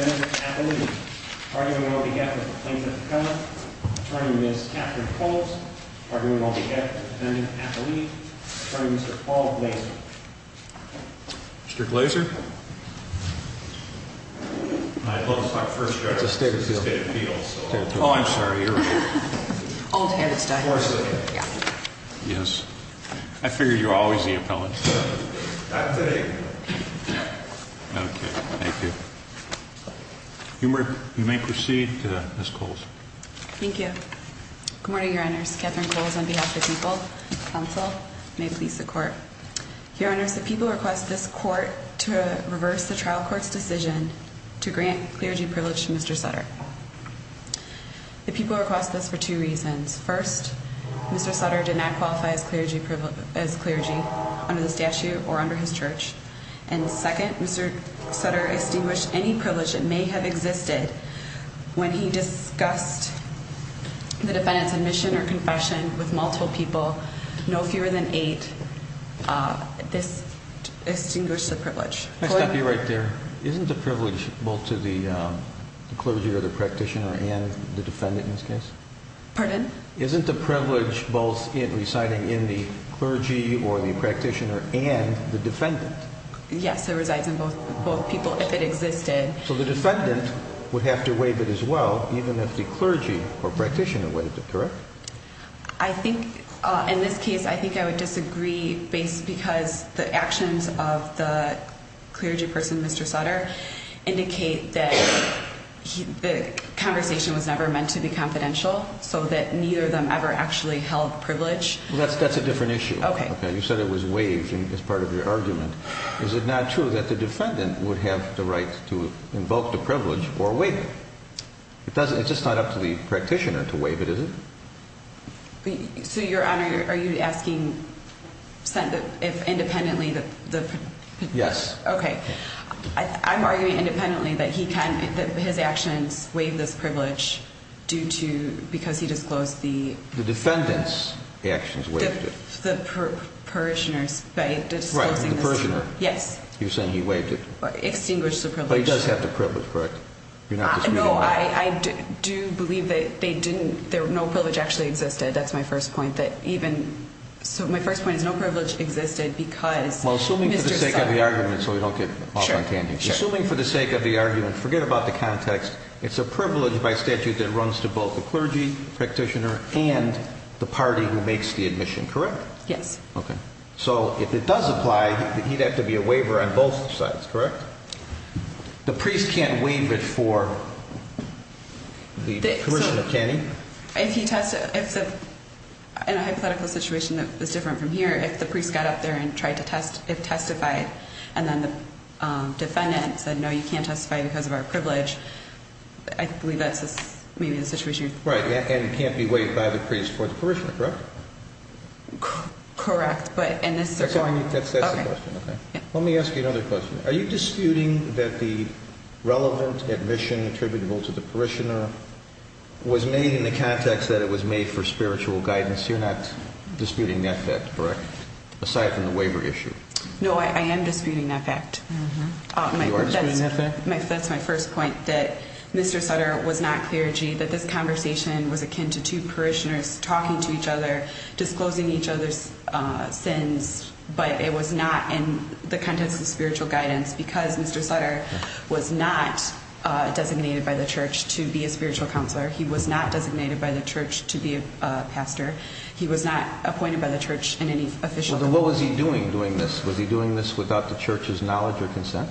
v. Appellee, arguing on behalf of Plaintiff McConnell, attorney Ms. Catherine Coles, arguing on behalf of Defendant Appellee, attorney Mr. Paul Glazer. Mr. Glazer? I'd love to start first, Your Honor, this is a state appeal, so I'm sorry, you're right. Old habits die hard. Yes. I figured you were always the appellant. Not today. Thank you. You may proceed, Ms. Coles. Thank you. Good morning, Your Honors. Catherine Coles, on behalf of the people, counsel, and may it please the Court. Coles, arguing on behalf of Plaintiff McConnell, attorney Ms. Catherine Coles, arguing on behalf you review the draft key statements brought forth in the trial in order to reverse the trial court's decision to grant clergy privilege to Mr. Sutter. Mr. Sutter did not qualify as clergy under the statute or under his church. And second, Mr. Sutter extinguished any privilege that may have existed when he discussed the defendant's admission or confession with multiple people, no fewer than eight, to the court. I stop you right there. Isn't the privilege both to the clergy or the practitioner and the defendant in this case? Pardon? Isn't the privilege both residing in the clergy or the practitioner and the defendant? Yes, it resides in both people if it existed. So the defendant would have to waive it as well, even if the clergy or practitioner waived it, correct? I think, in this case, I think I would disagree because the actions of the clergy person, Mr. Sutter, indicate that the conversation was never meant to be confidential, so that neither of them ever actually held privilege. That's a different issue. Okay. You said it was waived as part of your argument. Is it not true that the defendant would have the right to invoke the privilege or waive it? It doesn't. It's just not up to the practitioner to waive it, is it? So, Your Honor, are you asking if independently the... Yes. Okay. I'm arguing independently that he can, that his actions waive this privilege due to, because he disclosed the... The defendant's actions waived it. The parishioner's by disclosing this. Right. The parishioner. Yes. You're saying he waived it. Extinguished the privilege. But he does have the privilege, correct? You're not disputing that. No, I do believe that they didn't, no privilege actually existed. That's my first point, that even, so my first point is no privilege existed because Mr. Sutter... Well, assuming for the sake of the argument, so we don't get off on tangent. Sure. Assuming for the sake of the argument, forget about the context, it's a privilege by statute that runs to both the clergy practitioner and the party who makes the admission, correct? Yes. Okay. So, if it does apply, he'd have to be a waiver on both sides, correct? The priest can't waive it for the parishioner, can he? If he test... In a hypothetical situation that was different from here, if the priest got up there and tried to test, if testify, and then the defendant said, no, you can't testify because of our privilege, I believe that's maybe the situation. Right, and can't be waived by the priest for the parishioner, correct? Correct, but in this... That's the question, okay. Okay. Let me ask you another question. Are you disputing that the relevant admission attributable to the parishioner was made in the context that it was made for spiritual guidance? You're not disputing that fact, correct? Aside from the waiver issue. No, I am disputing that fact. You are disputing that fact? That's my first point, that Mr. Sutter was not clergy, that this conversation was akin to two parishioners talking to each other, disclosing each other's sins, but it was not in the context of spiritual guidance because Mr. Sutter was not designated by the church to be a spiritual counselor. He was not designated by the church to be a pastor. He was not appointed by the church in any official... What was he doing doing this? Was he doing this without the church's knowledge or consent?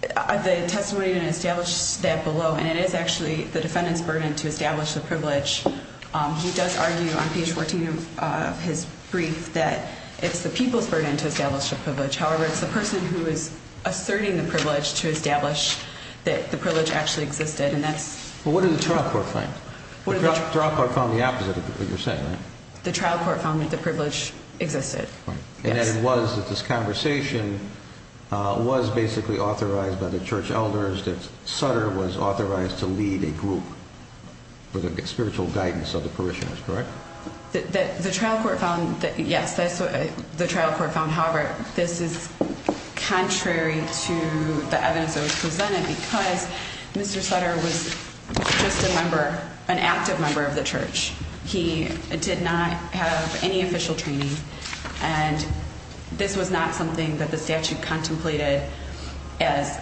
The testimony didn't establish that below, and it is actually the defendant's burden to establish the privilege. He does argue on page 14 of his brief that it's the people's burden to establish the privilege. However, it's the person who is asserting the privilege to establish that the privilege actually existed, and that's... Well, what did the trial court find? The trial court found the opposite of what you're saying, right? The trial court found that the privilege existed. Right. And that it was that this conversation was basically authorized by the church elders, that Sutter was authorized to lead a group for the spiritual guidance of the parishioners, correct? The trial court found... Yes, the trial court found, however, this is contrary to the evidence that was presented because Mr. Sutter was just a member, an active member of the church. He did not have any official training, and this was not something that the statute contemplated as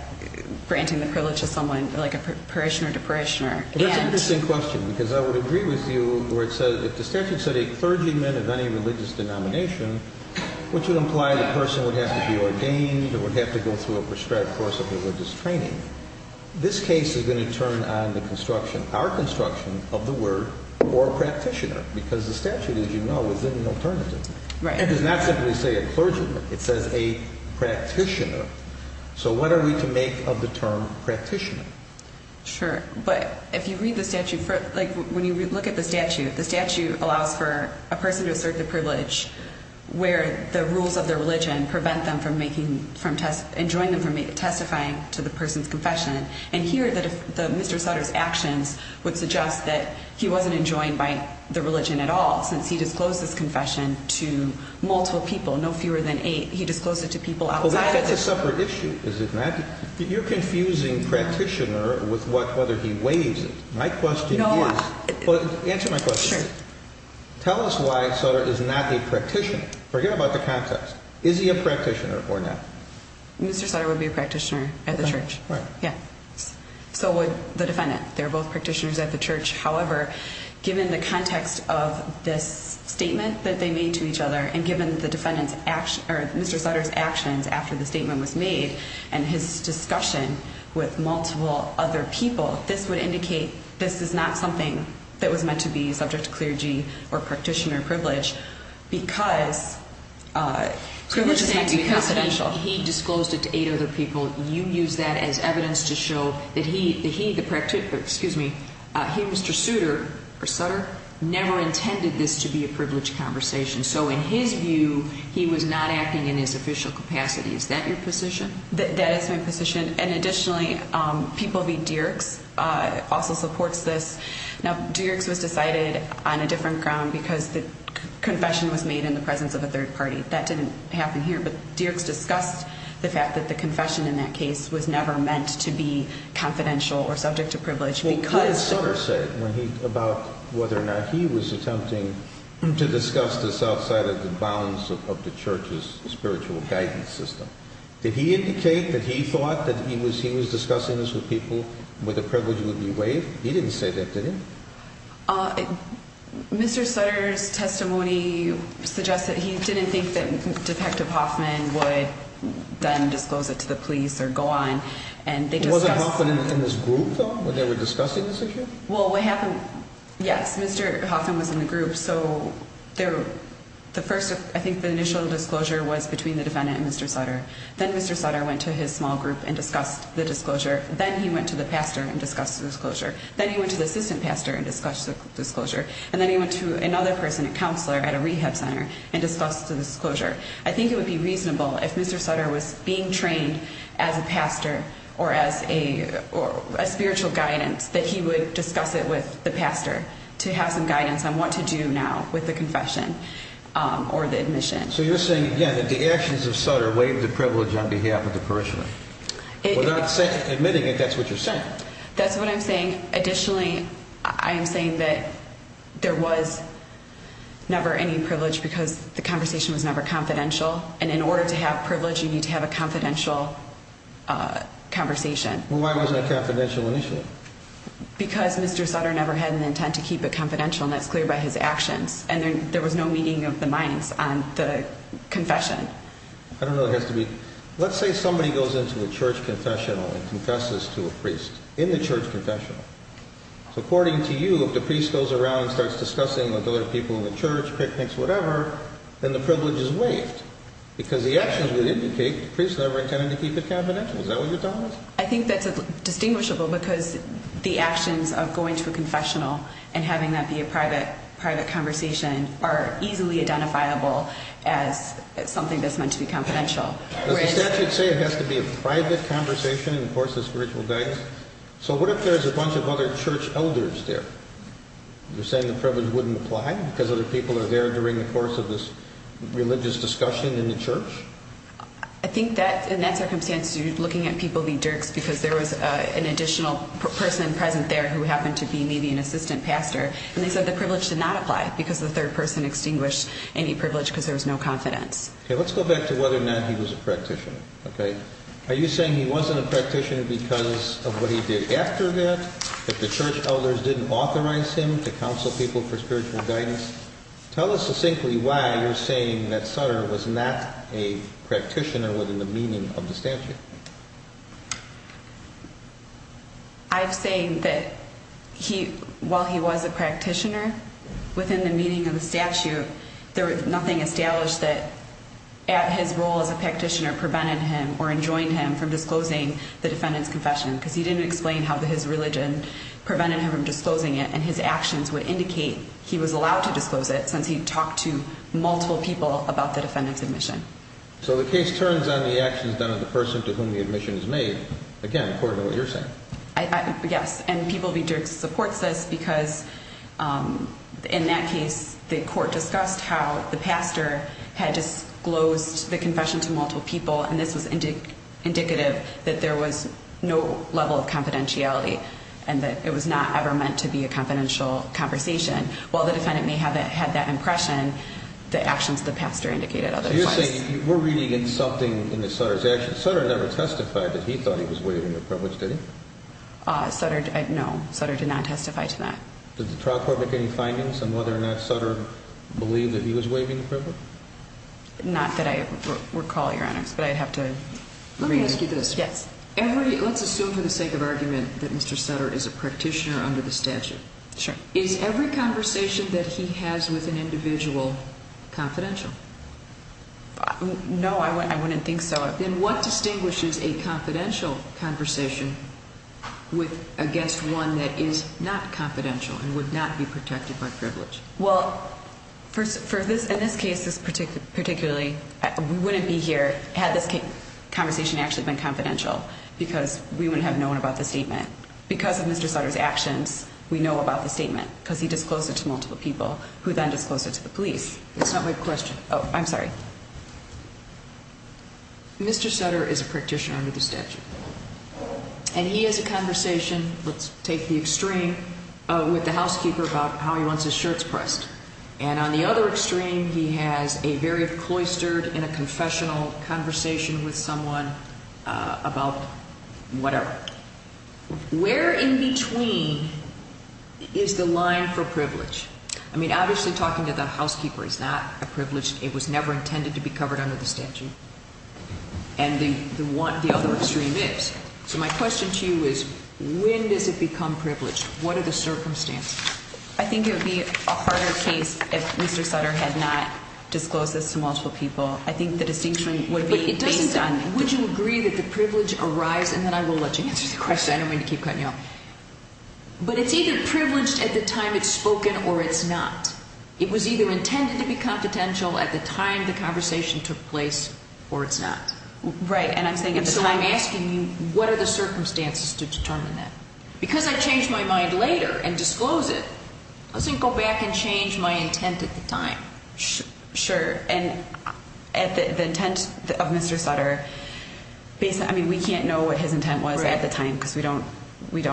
granting the privilege of someone like a parishioner to parishioner. That's an interesting question because I would agree with you where it says if the statute said a clergyman of any religious denomination, which would imply the person would have to be ordained or would have to go through a prescribed course of religious training, this case is going to turn on the construction, our construction, of the word or practitioner because the statute, as you know, is an alternative. Right. It does not simply say a clergyman. It says a practitioner. So what are we to make of the term practitioner? Sure, but if you read the statute, when you look at the statute, the statute allows for a person to assert the privilege where the rules of their religion prevent them from making, enjoin them from testifying to the person's confession. And here, Mr. Sutter's actions would suggest that he wasn't enjoined by the religion at all since he disclosed his confession to multiple people, no fewer than eight. He disclosed it to people outside... Well, that's a separate issue, is it not? You're confusing practitioner with whether he weighs it. My question is... No, I... Answer my question. Sure. Tell us why Sutter is not a practitioner. Forget about the context. Is he a practitioner or not? Mr. Sutter would be a practitioner at the church. Right. Yeah. So would the defendant. They're both practitioners at the church. However, given the context of this statement that they made to each other and given the with multiple other people, this would indicate this is not something that was meant to be subject to clergy or practitioner privilege because... Privilege is meant to be confidential. He disclosed it to eight other people. You use that as evidence to show that he, the practitioner, excuse me, he, Mr. Sutter, never intended this to be a privilege conversation. So in his view, he was not acting in his official capacity. Is that your position? That is my position. And additionally, People v. Dierks also supports this. Now, Dierks was decided on a different ground because the confession was made in the presence of a third party. That didn't happen here. But Dierks discussed the fact that the confession in that case was never meant to be confidential or subject to privilege because... What did Sutter say about whether or not he was attempting to discuss this outside of the bounds of the church's spiritual guidance system? Did he indicate that he thought that he was discussing this with people where the privilege would be waived? He didn't say that, did he? Mr. Sutter's testimony suggests that he didn't think that Detective Hoffman would then disclose it to the police or go on and they discussed... Wasn't Hoffman in this group, though, when they were discussing this issue? Well, what happened... Yes, Mr. Hoffman was in the group. I think the initial disclosure was between the defendant and Mr. Sutter. Then Mr. Sutter went to his small group and discussed the disclosure. Then he went to the pastor and discussed the disclosure. Then he went to the assistant pastor and discussed the disclosure. And then he went to another person, a counselor at a rehab center, and discussed the disclosure. I think it would be reasonable if Mr. Sutter was being trained as a pastor or as a spiritual guidance that he would discuss it with the pastor to have some guidance on what to do now with the confession or the admission. So you're saying, again, that the actions of Sutter waived the privilege on behalf of the parishioner? Without admitting it, that's what you're saying? That's what I'm saying. Additionally, I am saying that there was never any privilege because the conversation was never confidential. And in order to have privilege, you need to have a confidential conversation. Well, why wasn't it confidential initially? Because Mr. Sutter never had an intent to keep it confidential. And that's clear by his actions. And there was no meeting of the minds on the confession. I don't know. It has to be. Let's say somebody goes into a church confessional and confesses to a priest in the church confessional. According to you, if the priest goes around and starts discussing with other people in the church, picnics, whatever, then the privilege is waived. Because the actions would indicate the priest never intended to keep it confidential. Is that what you're telling us? I think that's distinguishable because the actions of going to a confessional and having that be a private conversation are easily identifiable as something that's meant to be confidential. Does the statute say it has to be a private conversation in the course of spiritual guidance? So what if there's a bunch of other church elders there? You're saying the privilege wouldn't apply because other people are there during the course of this religious discussion in the church? I think that, in that circumstance, you're looking at people being jerks because there was an additional person present there who happened to be maybe an assistant pastor, and they said the privilege did not apply because the third person extinguished any privilege because there was no confidence. Okay, let's go back to whether or not he was a practitioner, okay? Are you saying he wasn't a practitioner because of what he did after that, that the church elders didn't authorize him to counsel people for spiritual guidance? Tell us succinctly why you're saying that Sutter was not a practitioner within the meaning of the statute. I'm saying that while he was a practitioner, within the meaning of the statute, there was nothing established that his role as a practitioner prevented him or enjoined him from disclosing the defendant's confession because he didn't explain how his religion prevented him from disclosing it since he talked to multiple people about the defendant's admission. So the case turns on the actions done of the person to whom the admission is made, again, according to what you're saying. Yes, and people being jerks supports this because, in that case, the court discussed how the pastor had disclosed the confession to multiple people, and this was indicative that there was no level of confidentiality and that it was not ever meant to be a confidential conversation. While the defendant may have had that impression, the actions of the pastor indicated otherwise. You're saying we're reading in something in Sutter's actions. Sutter never testified that he thought he was waiving the privilege, did he? No, Sutter did not testify to that. Did the trial court make any findings on whether or not Sutter believed that he was waiving the privilege? Not that I recall, Your Honors, but I'd have to read it. Let me ask you this. Yes. Let's assume for the sake of argument that Mr. Sutter is a practitioner under the statute. Sure. Is every conversation that he has with an individual confidential? No, I wouldn't think so. Then what distinguishes a confidential conversation with against one that is not confidential and would not be protected by privilege? Well, in this case, particularly, we wouldn't be here had this conversation actually been confidential because we wouldn't have known about the statement. Because of Mr. Sutter's actions, we know about the statement because he disclosed it to multiple people who then disclosed it to the police. That's not my question. Oh, I'm sorry. Mr. Sutter is a practitioner under the statute, and he has a conversation, let's take the extreme, with the housekeeper about how he wants his shirts pressed. And on the other extreme, he has a very cloistered and a confessional conversation with someone about whatever. Where in between is the line for privilege? I mean, obviously talking to the housekeeper is not a privilege. It was never intended to be covered under the statute. And the other extreme is. So my question to you is, when does it become privilege? What are the circumstances? I think it would be a harder case if Mr. Sutter had not disclosed this to multiple people. I think the distinction would be based on. Would you agree that the privilege arises, and then I will let you answer the question. I don't mean to keep cutting you off. But it's either privileged at the time it's spoken or it's not. It was either intended to be confidential at the time the conversation took place or it's not. Right. And I'm saying at the time. And so I'm asking you, what are the circumstances to determine that? Because I changed my mind later and disclosed it, doesn't go back and change my intent at the time. Sure. And at the intent of Mr. Sutter, I mean, we can't know what his intent was at the time because we don't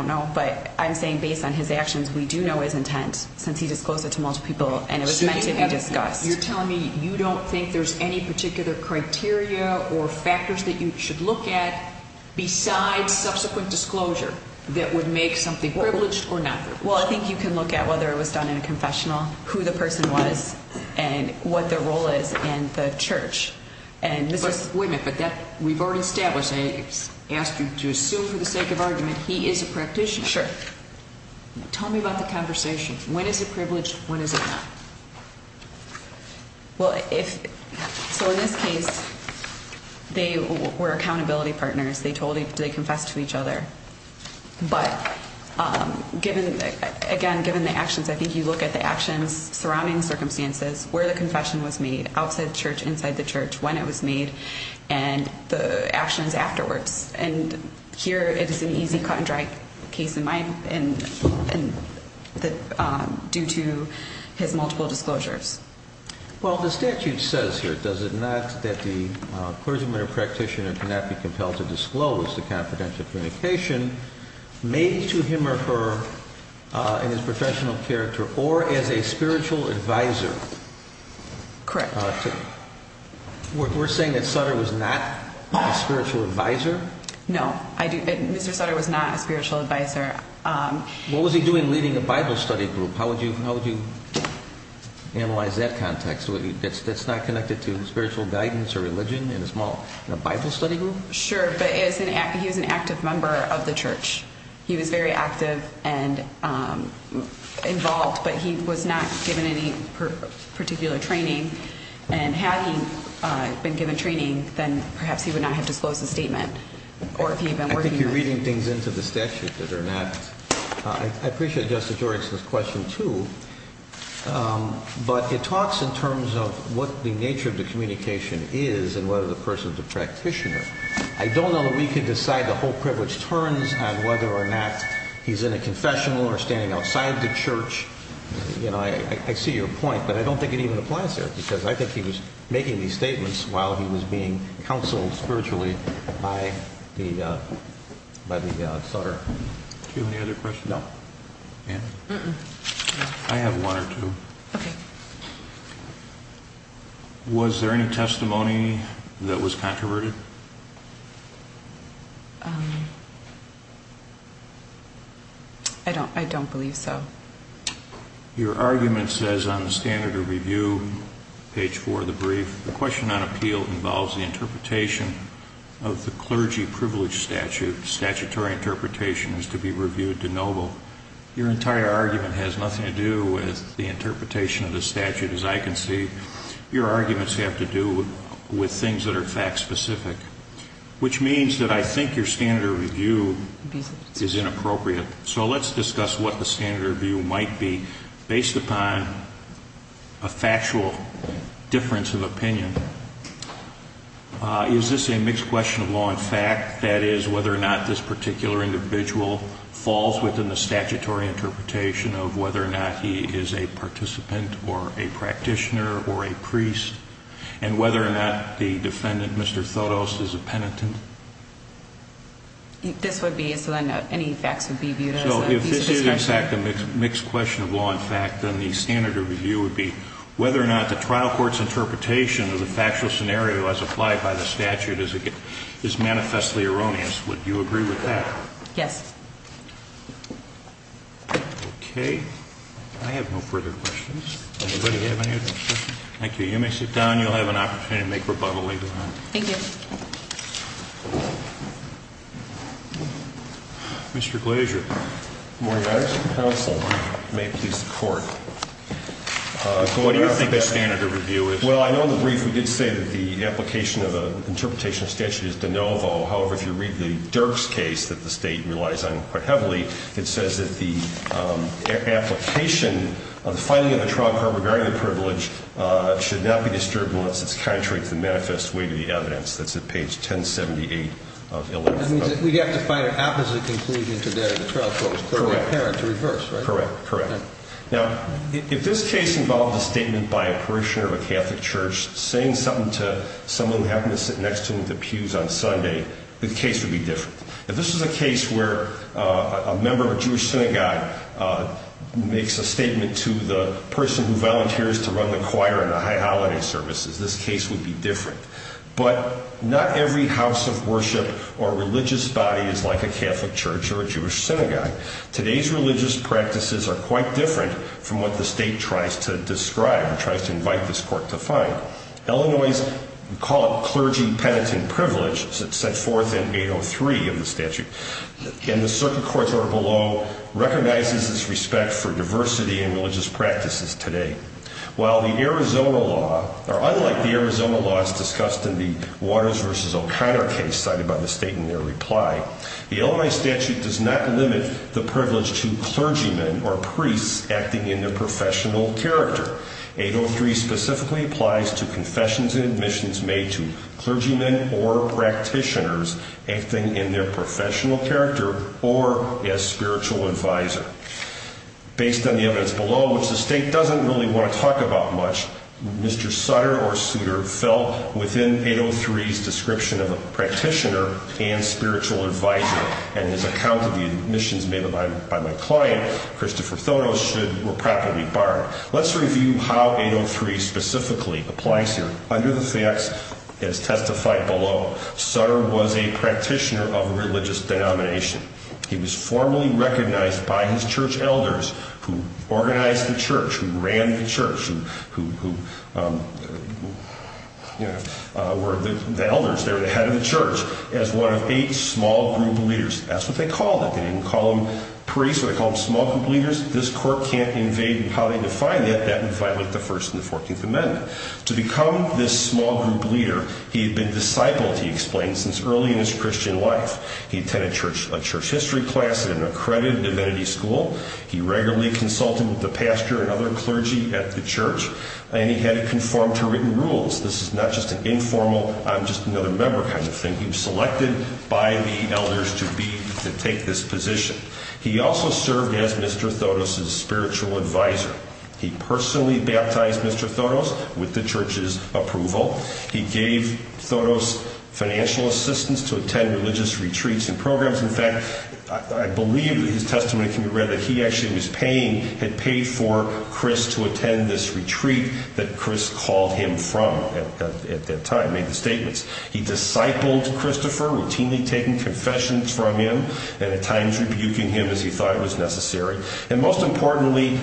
know. But I'm saying based on his actions, we do know his intent since he disclosed it to multiple people and it was meant to be discussed. So you're telling me you don't think there's any particular criteria or factors that you should look at besides subsequent disclosure that would make something privileged or not privileged? Well, I think you can look at whether it was done in a confessional, who the person was, and what their role is in the church. Wait a minute, but we've already established, I asked you to assume for the sake of argument, he is a practitioner. Sure. Tell me about the conversation. When is it privileged? When is it not? Well, so in this case, they were accountability partners. They confessed to each other. But again, given the actions, I think you look at the actions surrounding the circumstances, where the confession was made, outside the church, inside the church, when it was made, and the actions afterwards. And here it is an easy, cut and dry case in mind due to his multiple disclosures. Well, the statute says here, does it not, that the clergyman or practitioner cannot be compelled to disclose the confidential communication made to him or her in his professional character or as a spiritual advisor. Correct. We're saying that Sutter was not a spiritual advisor? No, Mr. Sutter was not a spiritual advisor. What was he doing leading a Bible study group? How would you analyze that context? That's not connected to spiritual guidance or religion in a Bible study group? Sure, but he was an active member of the church. He was very active and involved, but he was not given any particular training. And had he been given training, then perhaps he would not have disclosed the statement. I think you're reading things into the statute that are not. I appreciate Justice George's question, too, but it talks in terms of what the nature of the communication is and whether the person is a practitioner. I don't know that we can decide the whole privilege terms on whether or not he's in a confessional or standing outside the church. I see your point, but I don't think it even applies here because I think he was making these statements while he was being counseled spiritually by the Sutter. Do you have any other questions? No. Anne? I have one or two. Okay. Was there any testimony that was controverted? I don't believe so. Your argument says on the standard of review, page 4 of the brief, the question on appeal involves the interpretation of the clergy privilege statute. Statutory interpretation is to be reviewed de novo. Your entire argument has nothing to do with the interpretation of the statute, as I can see. Your arguments have to do with things that are fact-specific, which means that I think your standard of review is inappropriate. So let's discuss what the standard of review might be based upon a factual difference of opinion. Is this a mixed question of law and fact? That is, whether or not this particular individual falls within the statutory interpretation of whether or not he is a participant or a practitioner or a priest, and whether or not the defendant, Mr. Thodos, is a penitent? This would be a silent note. Any facts would be viewed as a piece of discussion. If this is, in fact, a mixed question of law and fact, then the standard of review would be whether or not the trial court's interpretation of the factual scenario as applied by the statute is manifestly erroneous. Would you agree with that? Yes. Okay. I have no further questions. Anybody have any other questions? Thank you. You may sit down. You'll have an opportunity to make rebuttal later on. Thank you. Mr. Glazier. Good morning, Your Honor. Counsel, may it please the Court. What do you think the standard of review is? Well, I know in the brief we did say that the application of an interpretation of statute is de novo. However, if you read the Dirks case that the State relies on quite heavily, it says that the application of the filing of a trial court regarding the privilege should not be disturbed unless it's contrary to the manifest way to the evidence that's in the statute. It's at page 1078 of 11. That means that we have to find an opposite conclusion to that of the trial court. Correct. To reverse, right? Correct, correct. Now, if this case involved a statement by a parishioner of a Catholic church saying something to someone who happened to sit next to him at the pews on Sunday, the case would be different. If this was a case where a member of a Jewish synagogue makes a statement to the person who volunteers to run the choir and the high holiday services, this case would be different. But not every house of worship or religious body is like a Catholic church or a Jewish synagogue. Today's religious practices are quite different from what the State tries to describe and tries to invite this Court to find. Illinois, we call it clergy penitent privilege. It's set forth in 803 of the statute. And the Circuit Court's order below recognizes its respect for diversity in religious practices today. While the Arizona law, or unlike the Arizona law as discussed in the Waters v. O'Connor case cited by the State in their reply, the Illinois statute does not limit the privilege to clergymen or priests acting in their professional character. 803 specifically applies to confessions and admissions made to clergymen or practitioners acting in their professional character or as spiritual advisor. Based on the evidence below, which the State doesn't really want to talk about much, Mr. Sutter or Suter fell within 803's description of a practitioner and spiritual advisor. And his account of the admissions made by my client, Christopher Thonos, were properly barred. Let's review how 803 specifically applies here. Under the facts as testified below, Sutter was a practitioner of religious denomination. He was formally recognized by his church elders who organized the church, who ran the church, who were the elders. They were the head of the church as one of eight small group leaders. That's what they called it. They didn't call them priests. They called them small group leaders. This Court can't invade how they define that. That would violate the First and the Fourteenth Amendment. To become this small group leader, he had been discipled, he explained, since early in his Christian life. He attended a church history class at an accredited divinity school. He regularly consulted with the pastor and other clergy at the church. And he had it conformed to written rules. This is not just an informal, I'm just another member kind of thing. He was selected by the elders to take this position. He also served as Mr. Thonos' spiritual advisor. He personally baptized Mr. Thonos with the church's approval. He gave Thonos financial assistance to attend religious retreats and programs. In fact, I believe his testimony can be read that he actually was paying, had paid for Chris to attend this retreat that Chris called him from at that time, made the statements. He discipled Christopher, routinely taking confessions from him, and at times rebuking him as he thought it was necessary. And most importantly,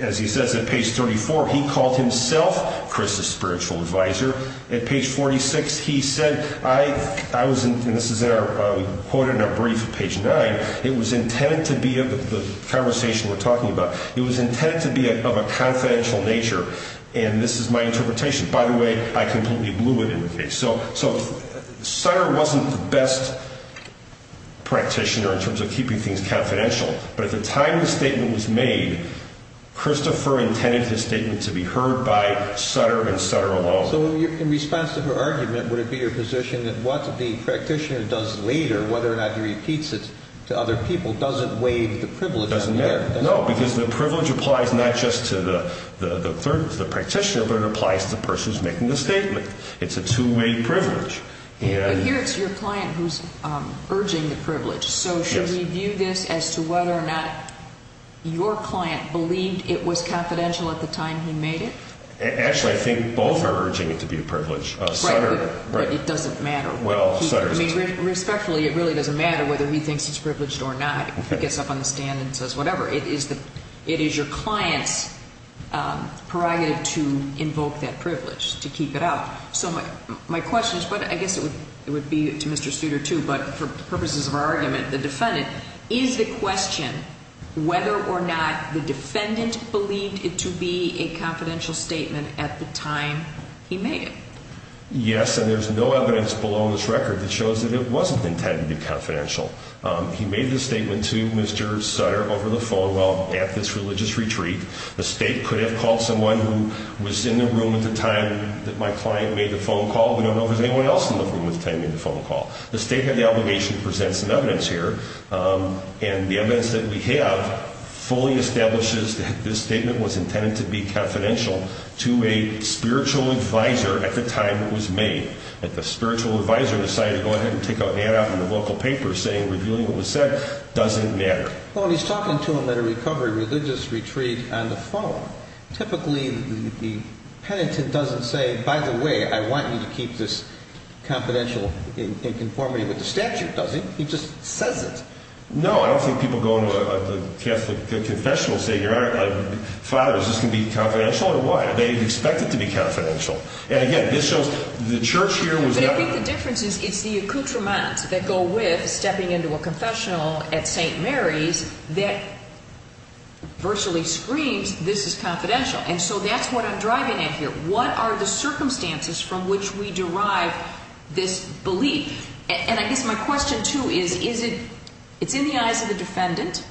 as he says at page 34, he called himself Chris' spiritual advisor. At page 46, he said, I was, and this is quoted in a brief at page 9, it was intended to be, the conversation we're talking about, it was intended to be of a confidential nature, and this is my interpretation. By the way, I completely blew it in the case. So Sutter wasn't the best practitioner in terms of keeping things confidential. But at the time the statement was made, Christopher intended his statement to be heard by Sutter and Sutter alone. So in response to her argument, would it be your position that what the practitioner does later, whether or not he repeats it to other people, doesn't waive the privilege? Doesn't matter. No, because the privilege applies not just to the practitioner, but it applies to the person who's making the statement. It's a two-way privilege. But here it's your client who's urging the privilege. So should we view this as to whether or not your client believed it was confidential at the time he made it? Actually, I think both are urging it to be a privilege. Right, but it doesn't matter. Respectfully, it really doesn't matter whether he thinks it's privileged or not. He gets up on the stand and says whatever. It is your client's prerogative to invoke that privilege, to keep it out. So my question is, but I guess it would be to Mr. Studer too, but for purposes of our argument, the defendant, is the question whether or not the defendant believed it to be a confidential statement at the time he made it? Yes, and there's no evidence below this record that shows that it wasn't intended to be confidential. He made the statement to Mr. Sutter over the phone while at this religious retreat. The State could have called someone who was in the room at the time that my client made the phone call. We don't know if there was anyone else in the room at the time he made the phone call. The State has the obligation to present some evidence here, and the evidence that we have fully establishes that this statement was intended to be confidential to a spiritual advisor at the time it was made. If the spiritual advisor decided to go ahead and take out an ad out in the local paper saying revealing what was said doesn't matter. Well, he's talking to him at a recovery religious retreat on the phone. Typically, the penitent doesn't say, by the way, I want you to keep this confidential in conformity with the statute, does he? He just says it. No, I don't think people go to a Catholic confessional and say, Father, is this going to be confidential or what? They expect it to be confidential. And again, this shows the Church here was not… I think the difference is it's the accoutrements that go with stepping into a confessional at St. Mary's that virtually screams this is confidential. And so that's what I'm driving at here. What are the circumstances from which we derive this belief? And I guess my question, too, is, is it – it's in the eyes of the defendant,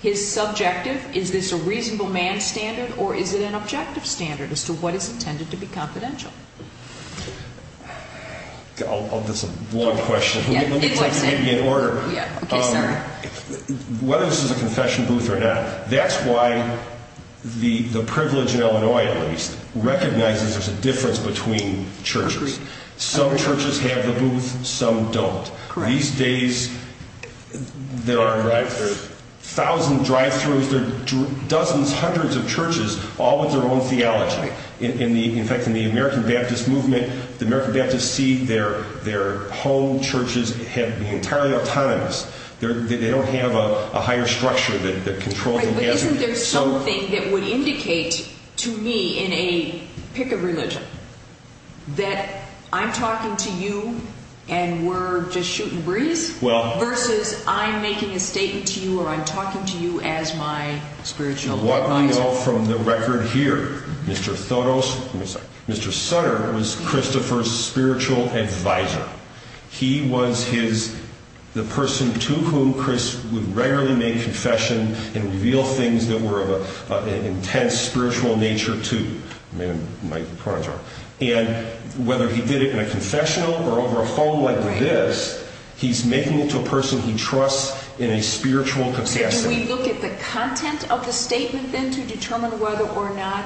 his subjective, is this a reasonable man's standard, or is it an objective standard as to what is intended to be confidential? That's a long question. Let me put it in order. Whether this is a confession booth or not, that's why the privilege in Illinois, at least, recognizes there's a difference between churches. Some churches have the booth, some don't. These days, there are a thousand drive-thrus, there are dozens, hundreds of churches, all with their own theology. In fact, in the American Baptist movement, the American Baptists see their home churches as being entirely autonomous. They don't have a higher structure that controls them. But isn't there something that would indicate to me in a pick of religion that I'm talking to you and we're just shooting breeze, versus I'm making a statement to you or I'm talking to you as my spiritual advisor? What we know from the record here, Mr. Sutter was Christopher's spiritual advisor. He was the person to whom Chris would regularly make confession and reveal things that were of an intense spiritual nature to. And whether he did it in a confessional or over a phone like this, he's making it to a person he trusts in a spiritual capacity. Can we look at the content of the statement then to determine whether or not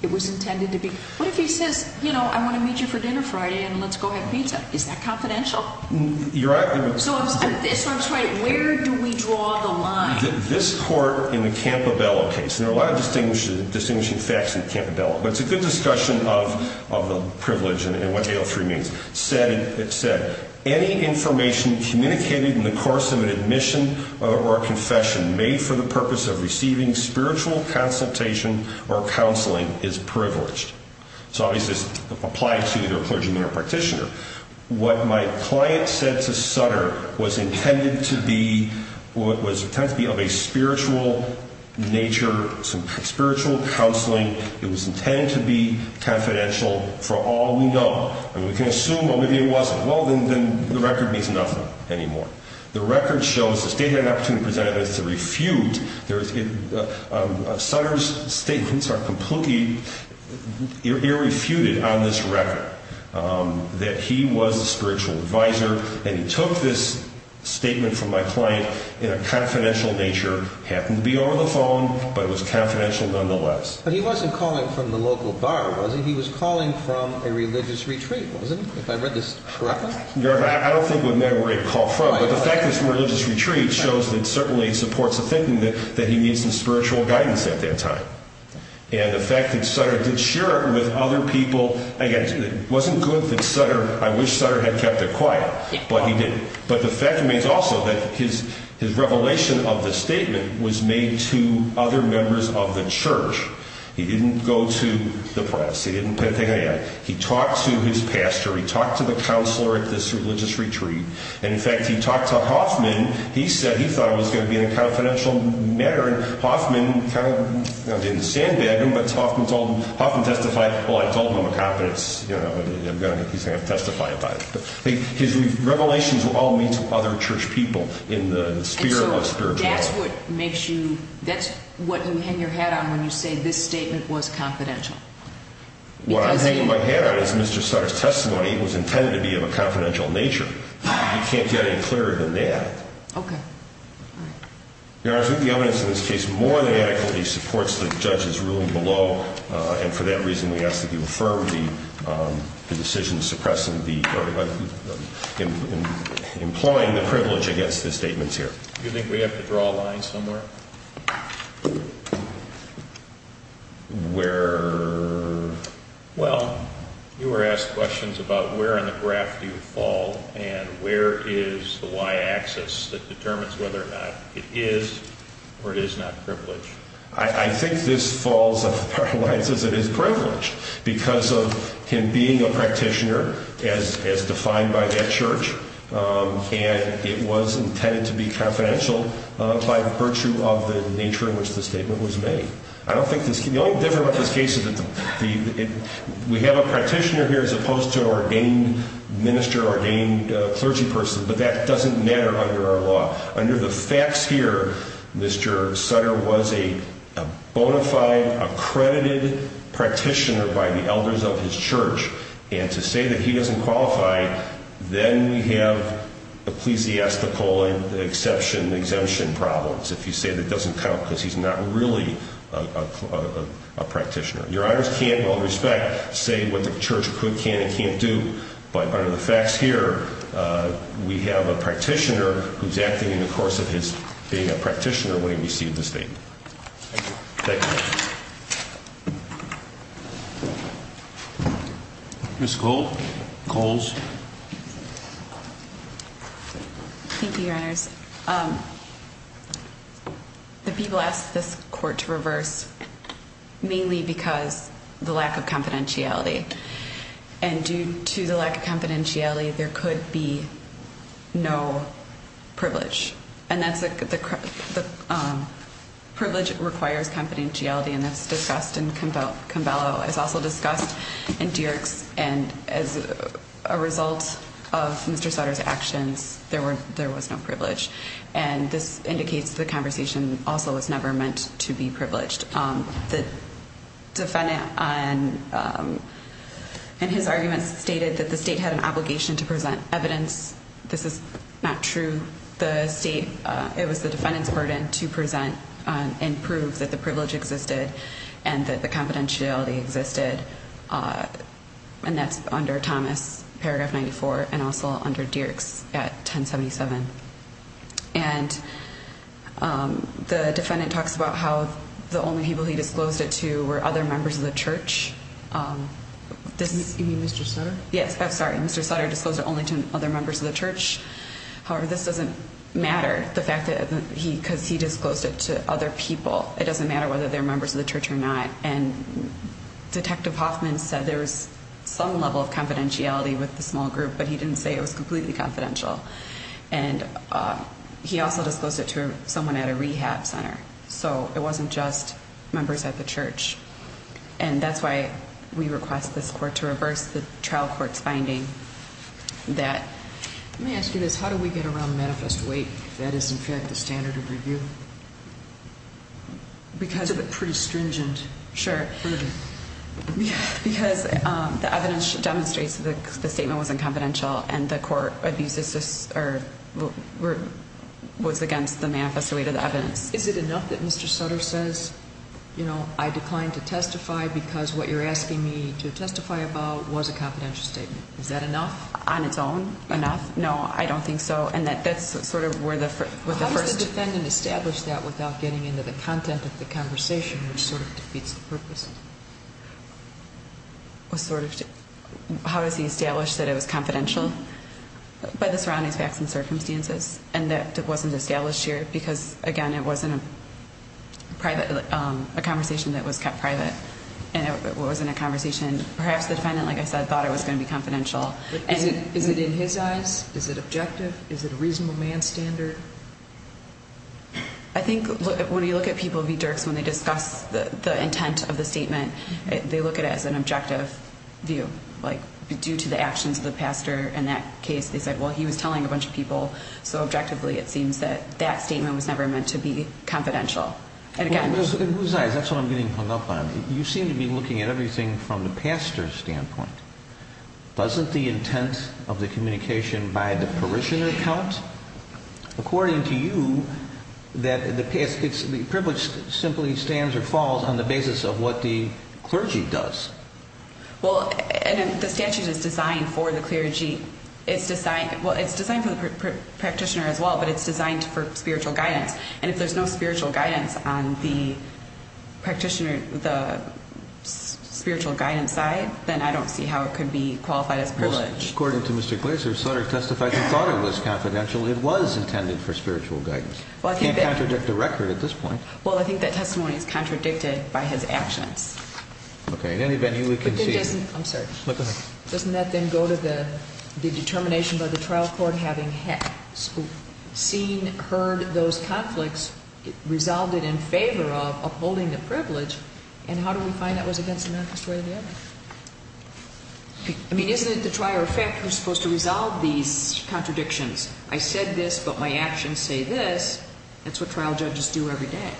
it was intended to be? What if he says, you know, I want to meet you for dinner Friday and let's go have pizza? Is that confidential? So where do we draw the line? This court in the Campobello case, and there are a lot of distinguishing facts in Campobello, but it's a good discussion of the privilege and what AL3 means. It said, any information communicated in the course of an admission or confession made for the purpose of receiving spiritual consultation or counseling is privileged. So obviously this applies to either a clergyman or a practitioner. What my client said to Sutter was intended to be of a spiritual nature, some spiritual counseling. It was intended to be confidential for all we know. And we can assume, well, maybe it wasn't. Well, then the record means nothing anymore. The record shows the state had an opportunity to present it as a refute. Sutter's statements are completely irrefuted on this record, that he was a spiritual advisor, and he took this statement from my client in a confidential nature. It happened to be over the phone, but it was confidential nonetheless. But he wasn't calling from the local bar, was he? He was calling from a religious retreat, wasn't he, if I read this correctly? Your Honor, I don't think it would matter where he called from, but the fact that it's a religious retreat shows that it certainly supports the thinking that he needs some spiritual guidance at that time. And the fact that Sutter did share it with other people, again, it wasn't good that Sutter, I wish Sutter had kept it quiet, but he didn't. But the fact remains also that his revelation of the statement was made to other members of the church. He didn't go to the press. He didn't say anything like that. He talked to his pastor. He talked to the counselor at this religious retreat. And, in fact, he talked to Hoffman. He said he thought it was going to be in a confidential matter, and Hoffman kind of didn't sandbag him, but Hoffman testified, well, I told him I'm a confidence, you know, he's going to have to testify about it. His revelations were all made to other church people in the spirit of a spiritualist. And so that's what makes you, that's what you hang your hat on when you say this statement was confidential? What I'm hanging my hat on is Mr. Sutter's testimony was intended to be of a confidential nature. You can't get any clearer than that. Okay. All right. Your Honor, I think the evidence in this case more than adequately supports the judge's ruling below, and for that reason we ask that you affirm the decision suppressing the, or employing the privilege against the statements here. Do you think we have to draw a line somewhere? Where? Well, you were asked questions about where in the graph do you fall, and where is the y-axis that determines whether or not it is or it is not privilege. I think this falls off our lines as it is privilege because of him being a practitioner as defined by that church, and it was intended to be confidential by virtue of the nature in which the statement was made. I don't think this, the only difference about this case is that we have a practitioner here as opposed to an ordained minister, ordained clergy person, but that doesn't matter under our law. Under the facts here, Mr. Sutter was a bona fide, accredited practitioner by the elders of his church, and to say that he doesn't qualify, then we have ecclesiastical and exception, exemption problems, if you say that doesn't count because he's not really a practitioner. Your Honors can't, in all respect, say what the church could, can, and can't do, but under the facts here, we have a practitioner who's acting in the course of his being a practitioner when he received the statement. Thank you. Ms. Coles. Thank you, Your Honors. The people asked this court to reverse mainly because the lack of confidentiality, and due to the lack of confidentiality, there could be no privilege, and that's a, the privilege requires confidentiality, and that's discussed in Cambello. It's also discussed in Dierks, and as a result of Mr. Sutter's actions, there was no privilege, and this indicates the conversation also was never meant to be privileged. The defendant, in his arguments, stated that the state had an obligation to present evidence. This is not true. The state, it was the defendant's burden to present and prove that the privilege existed and that the confidentiality existed, and that's under Thomas, paragraph 94, and also under Dierks at 1077. And the defendant talks about how the only people he disclosed it to were other members of the church. You mean Mr. Sutter? Yes, I'm sorry. Mr. Sutter disclosed it only to other members of the church. However, this doesn't matter, the fact that he, because he disclosed it to other people. It doesn't matter whether they're members of the church or not, and Detective Hoffman said there was some level of confidentiality with the small group, but he didn't say it was completely confidential. And he also disclosed it to someone at a rehab center, so it wasn't just members at the church. And that's why we request this court to reverse the trial court's finding that... Let me ask you this. How do we get around manifest weight if that is, in fact, the standard of review? Because of a pretty stringent burden. Because the evidence demonstrates that the statement was unconfidential and the court abuses this or was against the manifest weight of the evidence. Is it enough that Mr. Sutter says, you know, I declined to testify because what you're asking me to testify about was a confidential statement? Is that enough? On its own, enough? No, I don't think so. And that's sort of where the first... How does he establish that it was confidential by the surrounding facts and circumstances and that it wasn't established here because, again, it wasn't a conversation that was kept private and it wasn't a conversation perhaps the defendant, like I said, thought it was going to be confidential. Is it in his eyes? Is it objective? Is it a reasonable man's standard? I think when you look at people v. Dirks, when they discuss the intent of the statement, they look at it as an objective view. Like, due to the actions of the pastor in that case, they said, well, he was telling a bunch of people so objectively, it seems that that statement was never meant to be confidential. In whose eyes? That's what I'm getting hung up on. You seem to be looking at everything from the pastor's standpoint. Wasn't the intent of the communication by the parishioner count? According to you, the privilege simply stands or falls on the basis of what the clergy does. Well, the statute is designed for the clergy. It's designed for the practitioner as well, but it's designed for spiritual guidance. And if there's no spiritual guidance on the practitioner, the spiritual guidance side, then I don't see how it could be qualified as privilege. According to Mr. Glaser, Sutter testified he thought it was confidential. It was intended for spiritual guidance. He can't contradict the record at this point. Well, I think that testimony is contradicted by his actions. Okay. In any venue, we can see. I'm sorry. Go ahead. I mean, isn't it the trier of fact who's supposed to resolve these contradictions? I said this, but my actions say this. That's what trial judges do every day.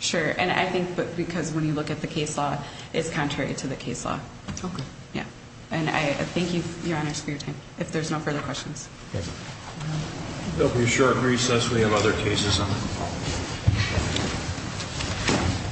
Sure. And I think because when you look at the case law, it's contrary to the case law. Okay. Yeah. And I thank you, Your Honors, for your time. If there's no further questions. Thank you. There will be a short recess. We have other cases on the call.